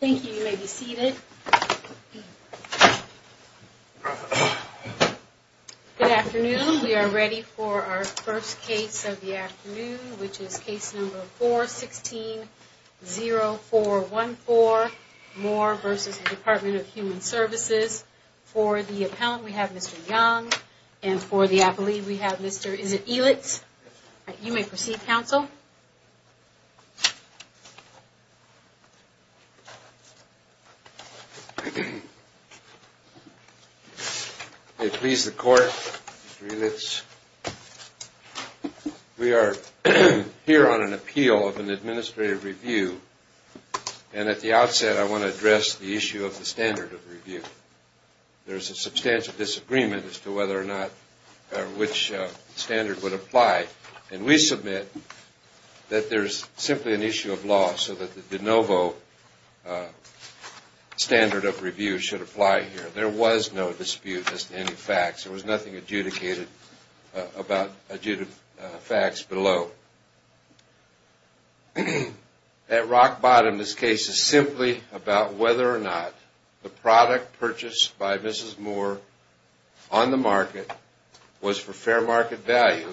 Thank you. You may be seated. Good afternoon. We are ready for our first case of the afternoon, which is case number 416-0414, Moore v. Department of Human Services. For the appellant, we have Mr. Young. And for the appellee, we have Mr. Elitz. You may proceed, counsel. I please the court, Mr. Elitz. We are here on an appeal of an administrative review, and at the outset I want to address the issue of the standard of review. There is a substantial disagreement as to whether or not which standard would apply, and we submit that there is simply an issue of law so that the de novo standard of review should apply here. There was no dispute as to any facts. There was nothing adjudicated about facts below. At rock bottom, this case is simply about whether or not the product purchased by Mrs. Moore on the market was for fair market value,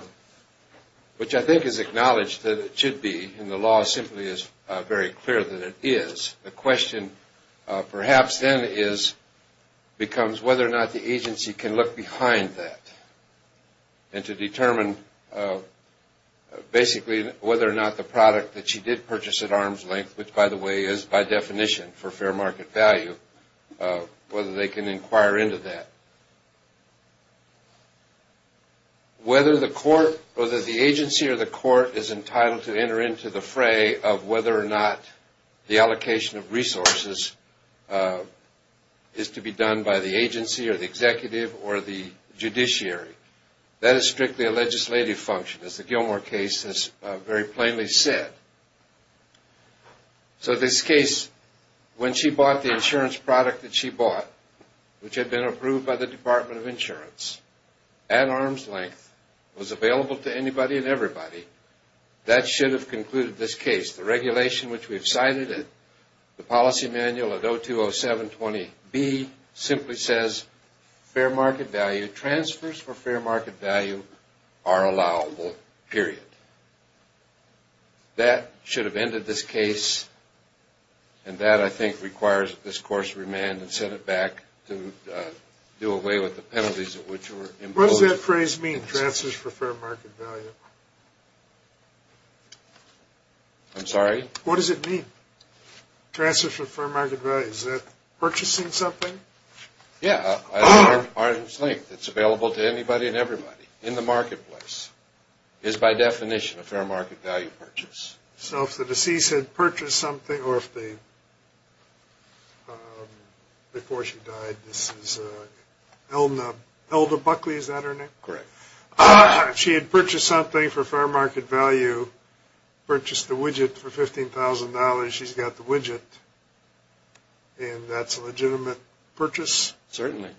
which I think is acknowledged that it should be. And the law simply is very clear that it is. The question perhaps then becomes whether or not the agency can look behind that and to determine basically whether or not the product that she did purchase at arm's length, which by the way is by definition for fair market value, whether they can inquire into that. Whether the agency or the court is entitled to enter into the fray of whether or not the allocation of resources is to be done by the agency or the executive or the judiciary, that is strictly a legislative function, as the Gilmore case has very plainly said. So this case, when she bought the insurance product that she bought, which had been approved by the Department of Insurance, at arm's length, was available to anybody and everybody, that should have concluded this case. The regulation which we've cited in the policy manual at 020720B simply says, fair market value, transfers for fair market value are allowable, period. That should have ended this case, and that I think requires that this course remand and send it back to do away with the penalties at which it was imposed. What does that phrase mean, transfers for fair market value? I'm sorry? What does it mean, transfers for fair market value? Is that purchasing something? Yeah, at arm's length. It's available to anybody and everybody in the marketplace. It is by definition a fair market value purchase. So if the deceased had purchased something, or if the, before she died, this is Hilda Buckley, is that her name? Correct. If she had purchased something for fair market value, purchased the widget for $15,000, she's got the widget, and that's a legitimate purchase? Certainly.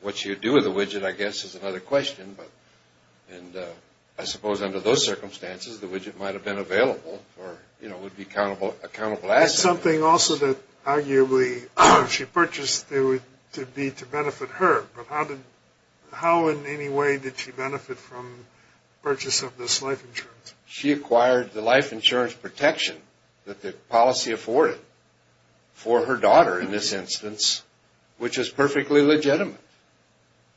What she would do with the widget, I guess, is another question, but, and I suppose under those circumstances, the widget might have been available for, you know, it would be a countable asset. It's something also that arguably, if she purchased, it would be to benefit her, but how in any way did she benefit from the purchase of this life insurance? She acquired the life insurance protection that the policy afforded for her daughter in this instance, which is perfectly legitimate.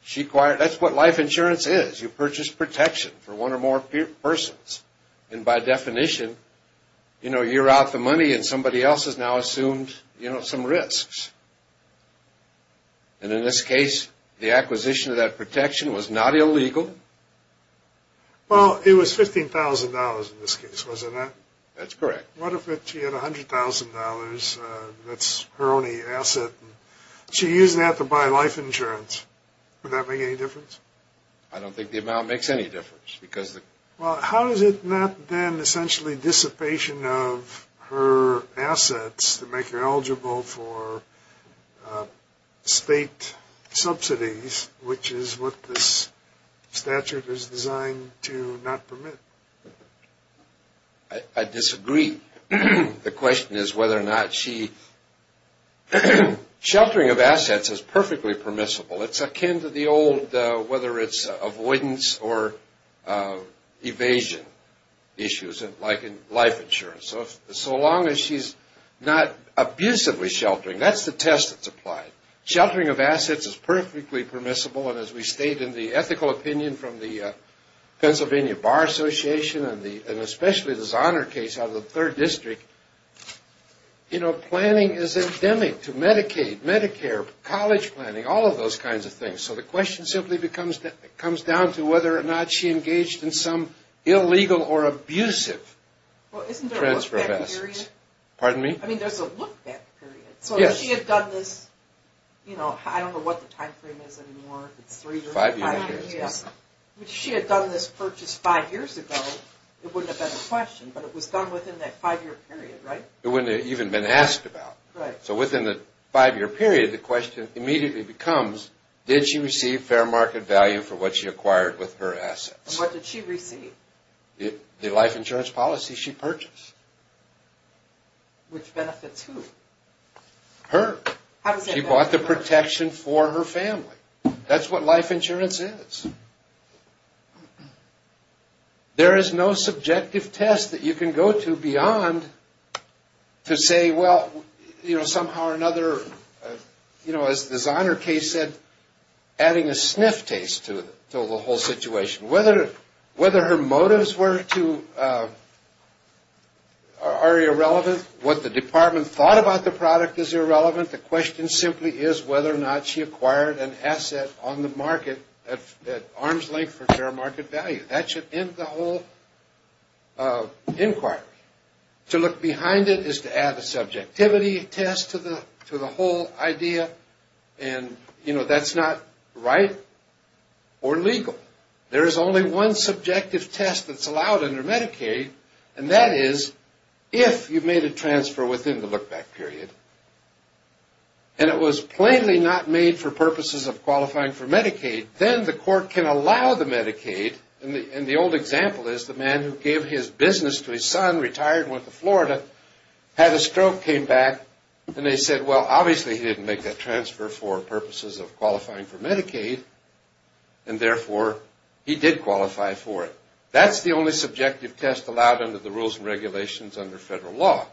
She acquired, that's what life insurance is. You purchase protection for one or more persons. And by definition, you know, you're out the money and somebody else has now assumed, you know, some risks. And in this case, the acquisition of that protection was not illegal. Well, it was $15,000 in this case, wasn't it? That's correct. What if she had $100,000, that's her only asset, and she used that to buy life insurance? Would that make any difference? I don't think the amount makes any difference. Well, how is it not then essentially dissipation of her assets to make her eligible for state subsidies, which is what this statute is designed to not permit? I disagree. The question is whether or not she, sheltering of assets is perfectly permissible. It's akin to the old, whether it's avoidance or evasion issues like in life insurance. So long as she's not abusively sheltering, that's the test that's applied. Sheltering of assets is perfectly permissible, and as we state in the ethical opinion from the Pennsylvania Bar Association and especially this honor case out of the third district, you know, planning is endemic to Medicaid, Medicare, college planning, all of those kinds of things. So the question simply comes down to whether or not she engaged in some illegal or abusive transfer of assets. Well, isn't there a look-back period? Pardon me? I mean, there's a look-back period. Yes. So if she had done this, you know, I don't know what the time frame is anymore. Five years. If she had done this purchase five years ago, it wouldn't have been a question, but it was done within that five-year period, right? It wouldn't have even been asked about. Right. So within the five-year period, the question immediately becomes, did she receive fair market value for what she acquired with her assets? What did she receive? The life insurance policy she purchased. Which benefits who? Her. How does that benefit her? She bought the protection for her family. That's what life insurance is. There is no subjective test that you can go to beyond to say, well, you know, somehow or another, you know, as the Zahner case said, adding a sniff taste to the whole situation. Whether her motives were to – are irrelevant, what the department thought about the product is irrelevant. The question simply is whether or not she acquired an asset on the market at arm's length for fair market value. That should end the whole inquiry. To look behind it is to add a subjectivity test to the whole idea, and, you know, that's not right or legal. There is only one subjective test that's allowed under Medicaid, and that is if you've made a transfer within the look-back period, and it was plainly not made for purposes of qualifying for Medicaid, then the court can allow the Medicaid. And the old example is the man who gave his business to his son, retired and went to Florida, had a stroke, came back, and they said, well, obviously he didn't make that transfer for purposes of qualifying for Medicaid, and therefore he did qualify for it. That's the only subjective test allowed under the rules and regulations under federal law.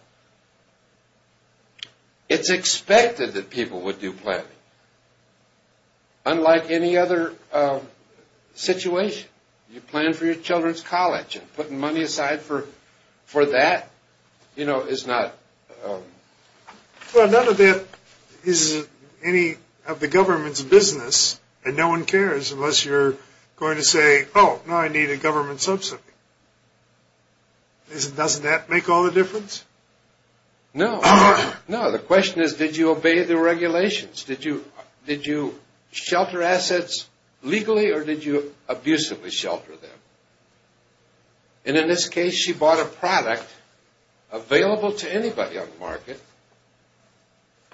It's expected that people would do planning, unlike any other situation. You plan for your children's college, and putting money aside for that, you know, is not... Well, none of that is any of the government's business, and no one cares unless you're going to say, oh, now I need a government subsidy. Doesn't that make all the difference? No. No, the question is did you obey the regulations? Did you shelter assets legally, or did you abusively shelter them? And in this case, she bought a product available to anybody on the market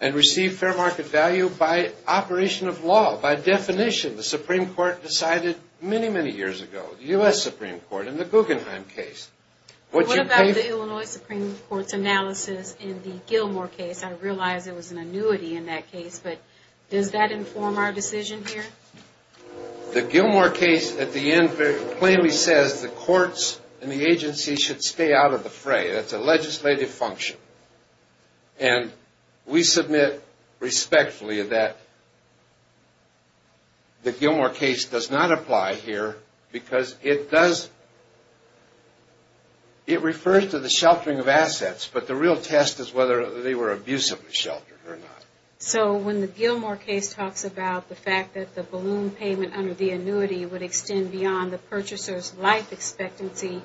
and received fair market value by operation of law, by definition. The Supreme Court decided many, many years ago, the U.S. Supreme Court in the Guggenheim case. What about the Illinois Supreme Court's analysis in the Gilmore case? I realize there was an annuity in that case, but does that inform our decision here? The Gilmore case at the end plainly says the courts and the agency should stay out of the fray. That's a legislative function, and we submit respectfully that the Gilmore case does not apply here because it does... But the real test is whether they were abusively sheltered or not. So when the Gilmore case talks about the fact that the balloon payment under the annuity would extend beyond the purchaser's life expectancy,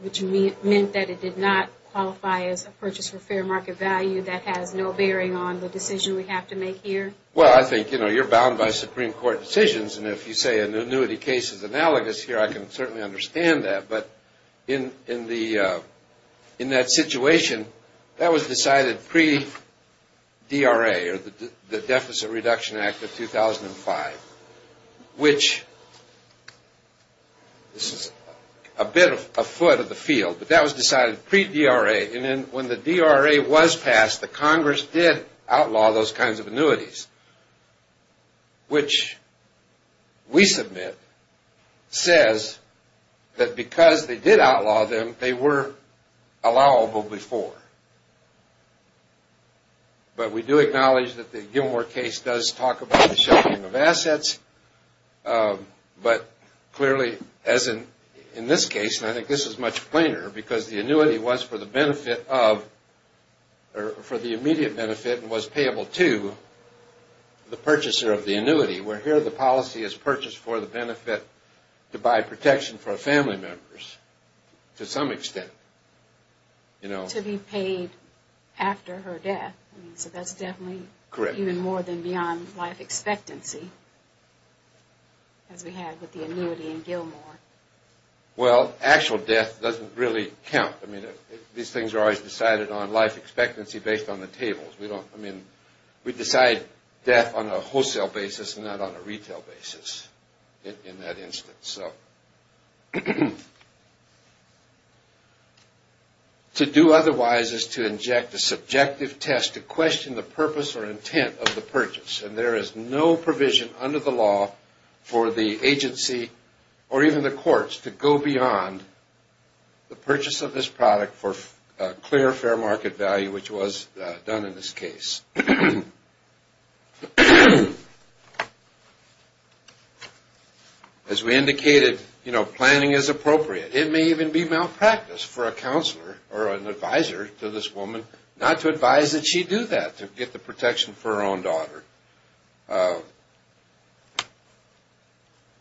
which meant that it did not qualify as a purchase for fair market value, that has no bearing on the decision we have to make here? Well, I think, you know, you're bound by Supreme Court decisions, and if you say an annuity case is analogous here, I can certainly understand that. But in that situation, that was decided pre-DRA, or the Deficit Reduction Act of 2005, which this is a bit afoot of the field, but that was decided pre-DRA, and then when the DRA was passed, the Congress did outlaw those kinds of annuities, which we submit says that because they did outlaw them, they were allowable before. But we do acknowledge that the Gilmore case does talk about the sheltering of assets, but clearly, as in this case, and I think this is much plainer, because the annuity was for the benefit of, or for the immediate benefit, and was payable to the purchaser of the annuity, where here the policy is purchased for the benefit to buy protection for family members, to some extent. To be paid after her death, so that's definitely even more than beyond life expectancy, as we had with the annuity in Gilmore. Well, actual death doesn't really count. I mean, these things are always decided on life expectancy based on the tables. I mean, we decide death on a wholesale basis and not on a retail basis in that instance. To do otherwise is to inject a subjective test to question the purpose or intent of the purchase, and there is no provision under the law for the agency, or even the courts, to go beyond the purchase of this product for clear fair market value, which was done in this case. As we indicated, you know, planning is appropriate. It may even be malpractice for a counselor or an advisor to this woman not to advise that she do that, to get the protection for her own daughter.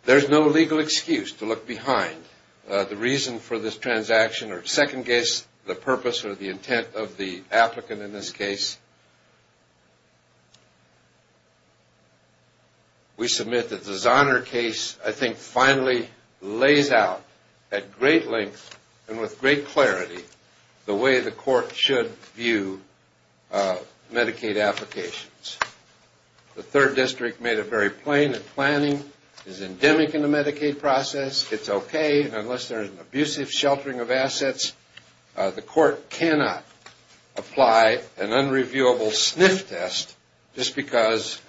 There's no legal excuse to look behind the reason for this transaction or second guess the purpose or the intent of the applicant in this case. We submit that the Zahner case, I think, finally lays out at great length and with great clarity the way the court should view Medicaid applications. The third district made it very plain that planning is endemic in the Medicaid process. It's okay, and unless there is an abusive sheltering of assets, the court cannot apply an unreviewable SNF test just because,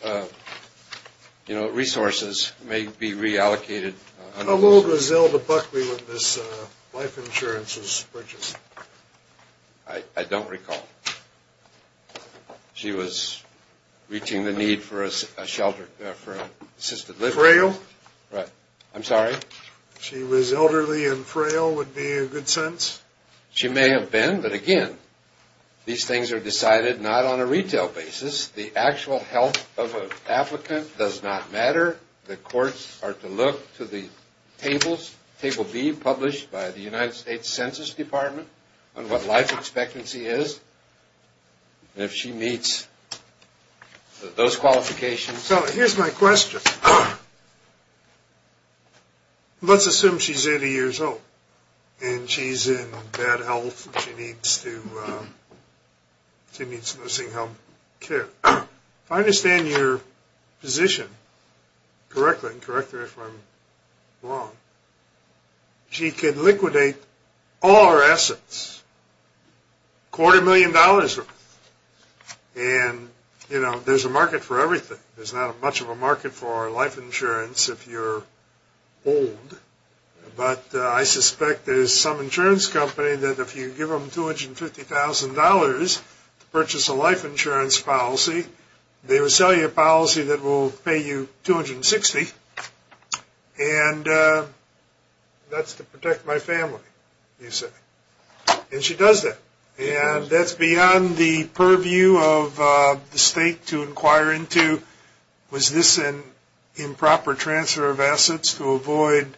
you know, resources may be reallocated. How old was Zelda Buckley when this life insurance was purchased? I don't recall. She was reaching the need for a shelter, for assisted living. Was she frail? Right. I'm sorry? She was elderly and frail would be a good sense. She may have been, but again, these things are decided not on a retail basis. The actual health of an applicant does not matter. The courts are to look to the tables, table B, published by the United States Census Department on what life expectancy is, and if she meets those qualifications. So here's my question. Let's assume she's 80 years old and she's in bad health and she needs to, she needs nursing home care. If I understand your position correctly, and correct me if I'm wrong, she could liquidate all her assets, quarter million dollars worth, and, you know, there's a market for everything. There's not much of a market for life insurance if you're old, but I suspect there's some insurance company that if you give them $250,000 to purchase a life insurance policy, they will sell you a policy that will pay you $260,000, and that's to protect my family, you say. And she does that, and that's beyond the purview of the state to inquire into, was this an improper transfer of assets to avoid,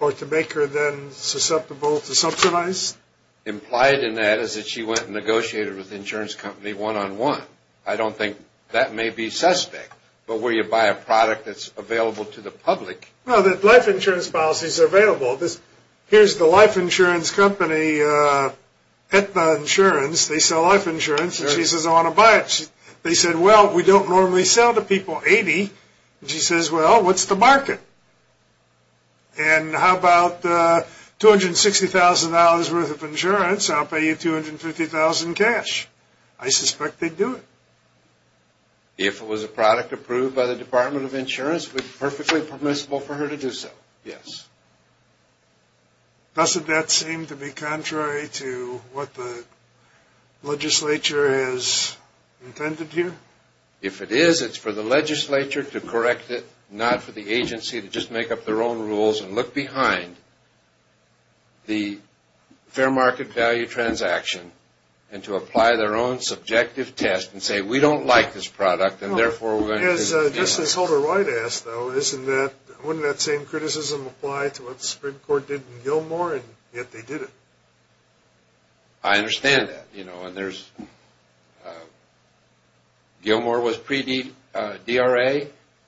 or to make her then susceptible to subsidize? Implied in that is that she went and negotiated with the insurance company one-on-one. I don't think that may be suspect, but where you buy a product that's available to the public. Well, the life insurance policies are available. Here's the life insurance company, Aetna Insurance, they sell life insurance, and she says I want to buy it. They said, well, we don't normally sell to people 80, and she says, well, what's the market? And how about $260,000 worth of insurance, I'll pay you $250,000 in cash. I suspect they'd do it. If it was a product approved by the Department of Insurance, it would be perfectly permissible for her to do so, yes. Doesn't that seem to be contrary to what the legislature has intended here? If it is, it's for the legislature to correct it, not for the agency to just make up their own rules and look behind the fair market value transaction and to apply their own subjective test and say, we don't like this product, and therefore we're going to do this. Just as Holder-Wright asked, though, wouldn't that same criticism apply to what the Supreme Court did in Gilmore, and yet they did it? I understand that. Gilmore was pre-DRA.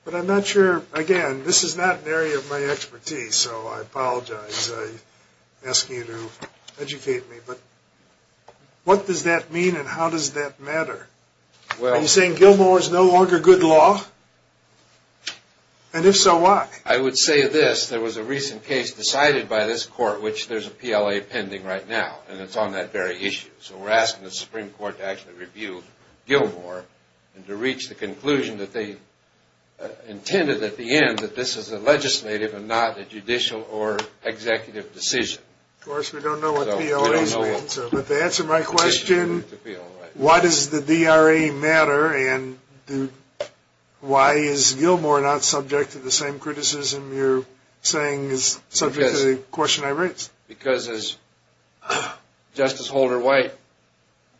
But I'm not sure, again, this is not an area of my expertise, so I apologize. I ask you to educate me. But what does that mean, and how does that matter? Are you saying Gilmore is no longer good law? And if so, why? I would say this. There was a recent case decided by this court, which there's a PLA pending right now, and it's on that very issue. So we're asking the Supreme Court to actually review Gilmore and to reach the conclusion that they intended at the end that this is a legislative and not a judicial or executive decision. Of course, we don't know what the PLA is, but to answer my question, why does the DRA matter, and why is Gilmore not subject to the same criticism you're saying is subject to the question I raised? Because as Justice Holder White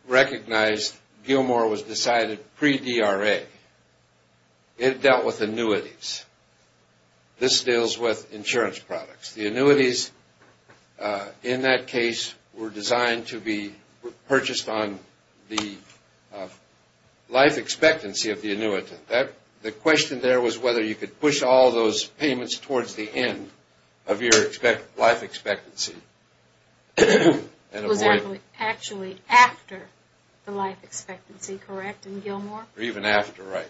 recognized, Gilmore was decided pre-DRA. It dealt with annuities. This deals with insurance products. The annuities in that case were designed to be purchased on the life expectancy of the annuitant. The question there was whether you could push all those payments towards the end of your life expectancy. It was actually after the life expectancy, correct, in Gilmore? Even after, right.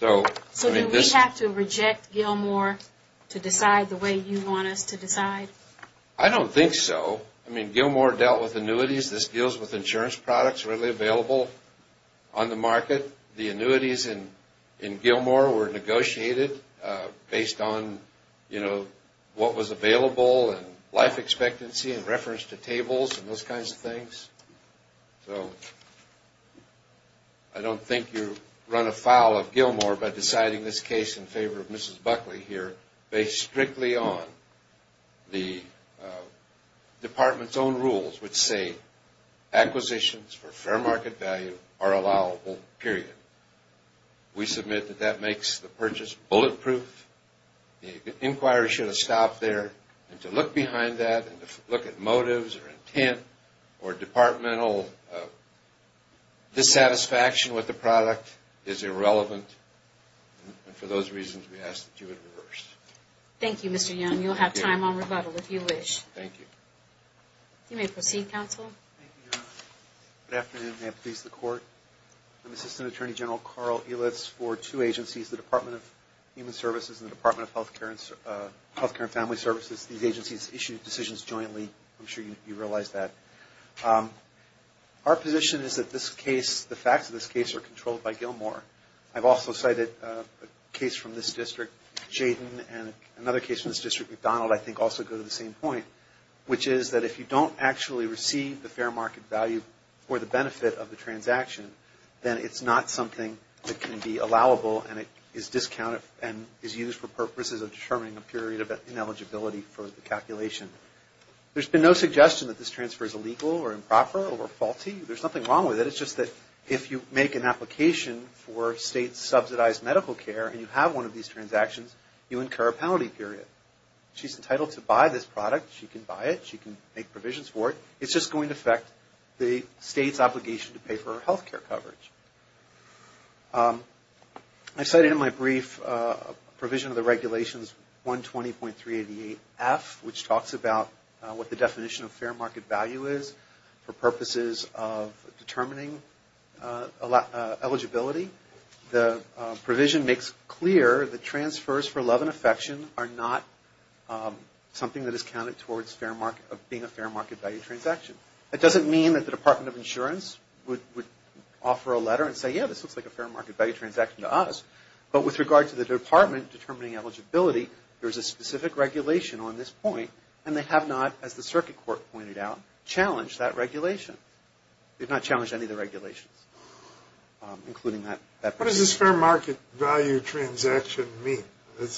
So do we have to reject Gilmore to decide the way you want us to decide? I don't think so. I mean, Gilmore dealt with annuities. This deals with insurance products readily available on the market. The annuities in Gilmore were negotiated based on, you know, what was available and life expectancy in reference to tables and those kinds of things. So I don't think you run afoul of Gilmore by deciding this case in favor of Mrs. Buckley here based strictly on the department's own rules which say acquisitions for fair market value are allowable, period. We submit that that makes the purchase bulletproof. The inquiry should have stopped there. And to look behind that and to look at motives or intent or departmental dissatisfaction with the product is irrelevant. And for those reasons, we ask that you would reverse. Thank you, Mr. Young. You'll have time on rebuttal if you wish. Thank you. You may proceed, counsel. Good afternoon. May it please the Court. I'm Assistant Attorney General Carl Ilitz for two agencies, the Department of Human Services and the Department of Health Care and Family Services. These agencies issue decisions jointly. I'm sure you realize that. Our position is that the facts of this case are controlled by Gilmore. I've also cited a case from this district, Jayden, and another case from this district, McDonald, I think also go to the same point, which is that if you don't actually receive the fair market value or the benefit of the transaction, then it's not something that can be allowable and is used for purposes of determining a period of ineligibility for the calculation. There's been no suggestion that this transfer is illegal or improper or faulty. There's nothing wrong with it. It's just that if you make an application for state-subsidized medical care and you have one of these transactions, you incur a penalty period. She's entitled to buy this product. She can buy it. She can make provisions for it. It's just going to affect the state's obligation to pay for her health care coverage. I cited in my brief a provision of the Regulations 120.388F, which talks about what the definition of fair market value is for purposes of determining eligibility. The provision makes clear that transfers for love and affection are not something that is counted towards being a fair market value transaction. That doesn't mean that the Department of Insurance would offer a letter and say, yeah, this looks like a fair market value transaction to us. But with regard to the department determining eligibility, there's a specific regulation on this point, and they have not, as the Circuit Court pointed out, challenged that regulation. They've not challenged any of the regulations, including that provision. What does this fair market value transaction mean? It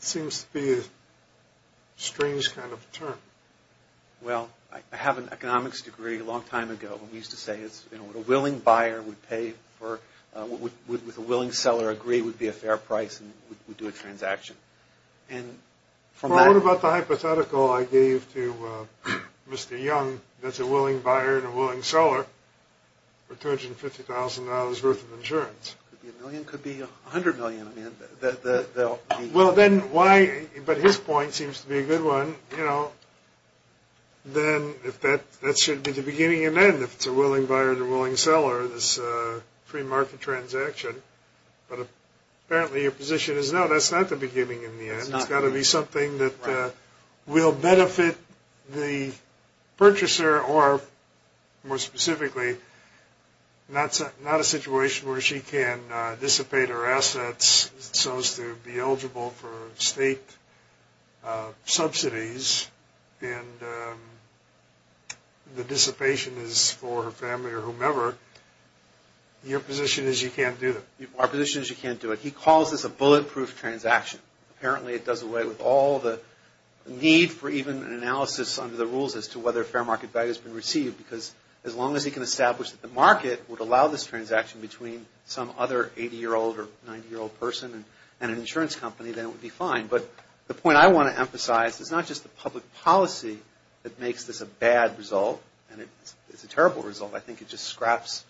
seems to be a strange kind of term. Well, I have an economics degree a long time ago, and we used to say a willing buyer would pay for – with a willing seller agree would be a fair price and would do a transaction. What about the hypothetical I gave to Mr. Young that's a willing buyer and a willing seller for $250,000 worth of insurance? It could be a million. It could be $100 million. Well, then why – but his point seems to be a good one. You know, then that should be the beginning and end, if it's a willing buyer and a willing seller, this free market transaction. But apparently your position is, no, that's not the beginning and the end. It's got to be something that will benefit the purchaser or, more specifically, not a situation where she can dissipate her assets so as to be eligible for state subsidies and the dissipation is for her family or whomever. Your position is you can't do that. Our position is you can't do it. He calls this a bulletproof transaction. Apparently it does away with all the need for even an analysis under the rules as to whether fair market value has been received because as long as he can establish that the market would allow this transaction between some other 80-year-old or 90-year-old person and an insurance company, then it would be fine. But the point I want to emphasize is not just the public policy that makes this a bad result and it's a terrible result. I think it just scraps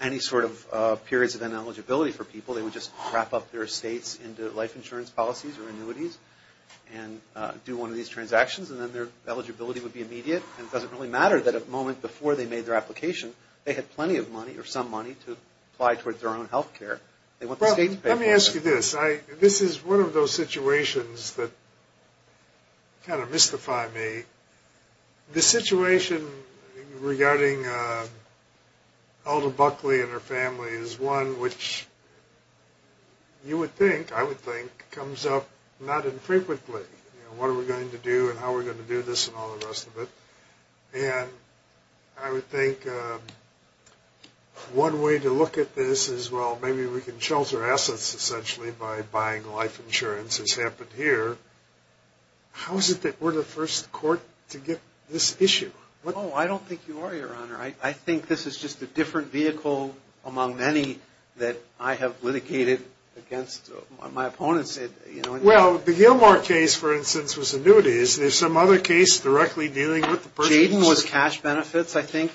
any sort of periods of ineligibility for people. They would just wrap up their estates into life insurance policies or annuities and do one of these transactions, and then their eligibility would be immediate. And it doesn't really matter that a moment before they made their application, they had plenty of money or some money to apply towards their own health care. Let me ask you this. This is one of those situations that kind of mystify me. The situation regarding Alda Buckley and her family is one which you would think, I would think, comes up not infrequently. What are we going to do and how are we going to do this and all the rest of it? And I would think one way to look at this is, well, maybe we can shelter assets, essentially, by buying life insurance, as happened here. How is it that we're the first court to get this issue? Oh, I don't think you are, Your Honor. I think this is just a different vehicle among many that I have litigated against. Well, the Gilmore case, for instance, was annuities. There's some other case directly dealing with the person's insurance. Jayden was cash benefits, I think,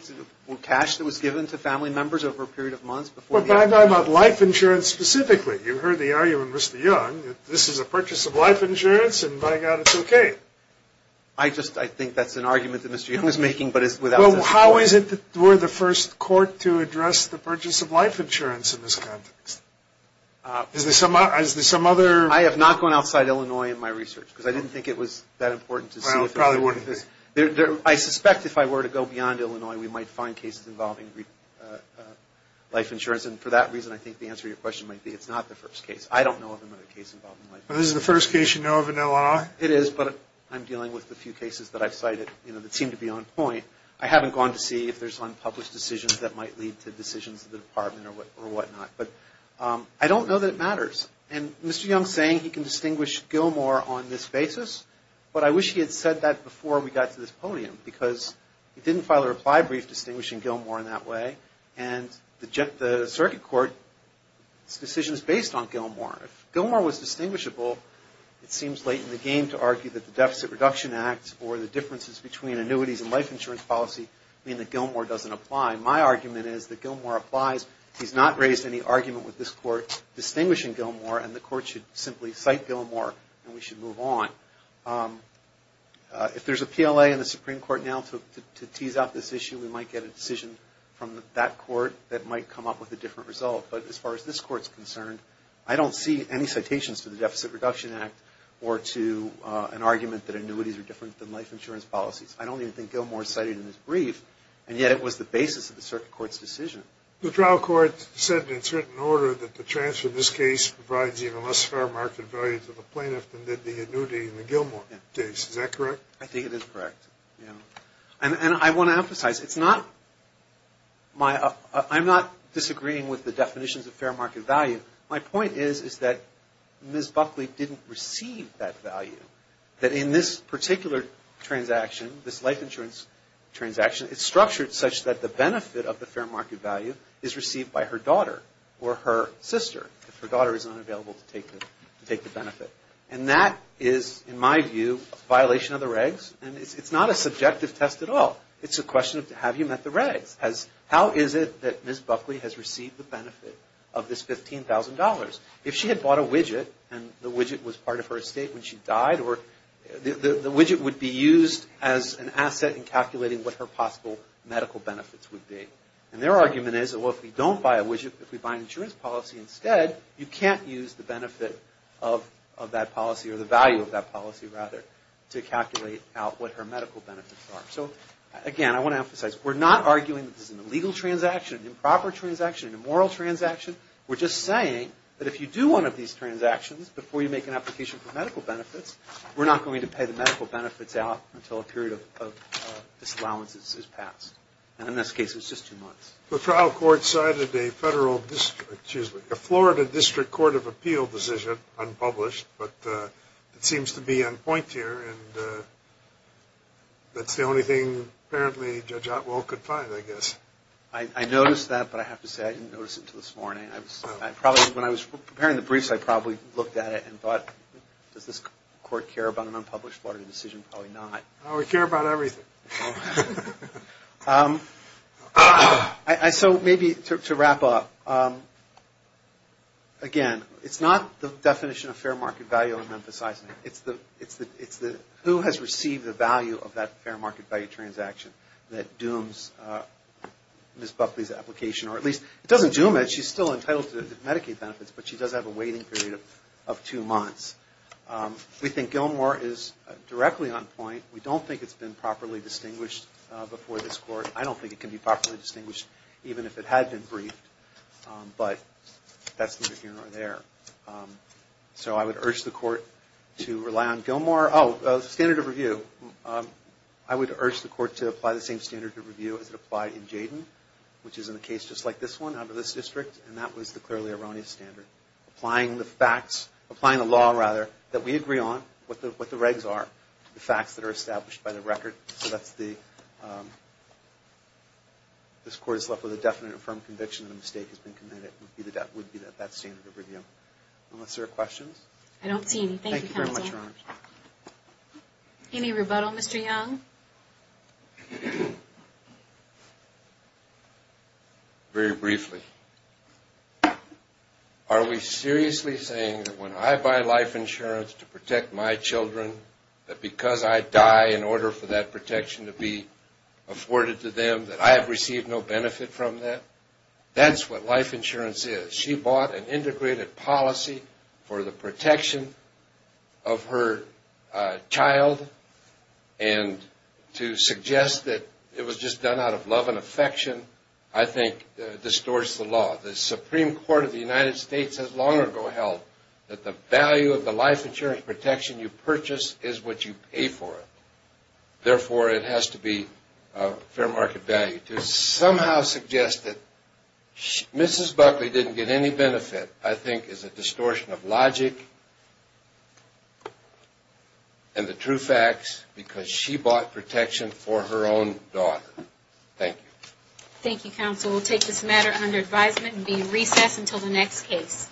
cash that was given to family members over a period of months before the annuity. Well, but I'm talking about life insurance specifically. You heard the argument with Mr. Young. This is a purchase of life insurance, and by God, it's okay. I just think that's an argument that Mr. Young is making, but it's without the support. Well, how is it that we're the first court to address the purchase of life insurance in this context? Is there some other? I have not gone outside Illinois in my research, because I didn't think it was that important to see. Well, it probably wouldn't be. I suspect if I were to go beyond Illinois, we might find cases involving life insurance, and for that reason, I think the answer to your question might be it's not the first case. I don't know of another case involving life insurance. Well, this is the first case you know of in Illinois? It is, but I'm dealing with a few cases that I've cited that seem to be on point. I haven't gone to see if there's unpublished decisions that might lead to decisions of the department or whatnot. But I don't know that it matters. And Mr. Young is saying he can distinguish Gilmore on this basis, but I wish he had said that before we got to this podium, because he didn't file a reply brief distinguishing Gilmore in that way, and the circuit court's decision is based on Gilmore. If Gilmore was distinguishable, it seems late in the game to argue that the Deficit Reduction Act or the differences between annuities and life insurance policy mean that Gilmore doesn't apply. My argument is that Gilmore applies. He's not raised any argument with this court distinguishing Gilmore, and the court should simply cite Gilmore, and we should move on. If there's a PLA in the Supreme Court now to tease out this issue, we might get a decision from that court that might come up with a different result. But as far as this court's concerned, I don't see any citations to the Deficit Reduction Act or to an argument that annuities are different than life insurance policies. I don't even think Gilmore is cited in this brief, and yet it was the basis of the circuit court's decision. The trial court said in certain order that the transfer of this case provides even less fair market value to the plaintiff than did the annuity in the Gilmore case. Is that correct? I think it is correct. And I want to emphasize, it's not my – I'm not disagreeing with the definitions of fair market value. My point is that Ms. Buckley didn't receive that value, that in this particular transaction, this life insurance transaction, it's structured such that the benefit of the fair market value is received by her daughter or her sister if her daughter is unavailable to take the benefit. And that is, in my view, a violation of the regs, and it's not a subjective test at all. It's a question of have you met the regs? How is it that Ms. Buckley has received the benefit of this $15,000? If she had bought a widget and the widget was part of her estate when she died, the widget would be used as an asset in calculating what her possible medical benefits would be. And their argument is, well, if we don't buy a widget, if we buy an insurance policy instead, you can't use the benefit of that policy or the value of that policy, rather, to calculate out what her medical benefits are. So, again, I want to emphasize, we're not arguing that this is an illegal transaction, an improper transaction, an immoral transaction. We're just saying that if you do one of these transactions before you make an application for medical benefits, we're not going to pay the medical benefits out until a period of disallowance has passed. And in this case, it was just two months. The trial court cited a Florida District Court of Appeal decision, unpublished, but it seems to be on point here, and that's the only thing, apparently, Judge Otwell could find, I guess. I noticed that, but I have to say I didn't notice it until this morning. When I was preparing the briefs, I probably looked at it and thought, does this court care about an unpublished Florida decision? Probably not. Oh, we care about everything. So maybe to wrap up, again, it's not the definition of fair market value I'm emphasizing. It's who has received the value of that fair market value transaction that dooms Ms. Buckley's application, or at least it doesn't doom it. She's still entitled to Medicaid benefits, but she does have a waiting period of two months. We think Gilmore is directly on point. We don't think it's been properly distinguished before this court. I don't think it can be properly distinguished even if it had been briefed, but that's neither here nor there. So I would urge the court to rely on Gilmore. Oh, standard of review. I would urge the court to apply the same standard of review as it applied in Jayden, which is in a case just like this one out of this district, and that was the clearly erroneous standard. Applying the facts, applying the law, rather, that we agree on, what the regs are, the facts that are established by the record. This court is left with a definite and firm conviction that a mistake has been committed. That would be that standard of review. Unless there are questions. I don't see any. Thank you, counsel. Thank you very much, Your Honor. Any rebuttal, Mr. Young? Very briefly. Are we seriously saying that when I buy life insurance to protect my children, that because I die in order for that protection to be afforded to them, that I have received no benefit from that? That's what life insurance is. She bought an integrated policy for the protection of her child, and to suggest that it was just done out of love and affection, I think, distorts the law. The Supreme Court of the United States has long ago held that the value of the life insurance protection you purchase is what you pay for it. Therefore, it has to be fair market value. To somehow suggest that Mrs. Buckley didn't get any benefit, I think, is a distortion of logic and the true facts because she bought protection for her own daughter. Thank you. Thank you, counsel. We'll take this matter under advisement and be in recess until the next case.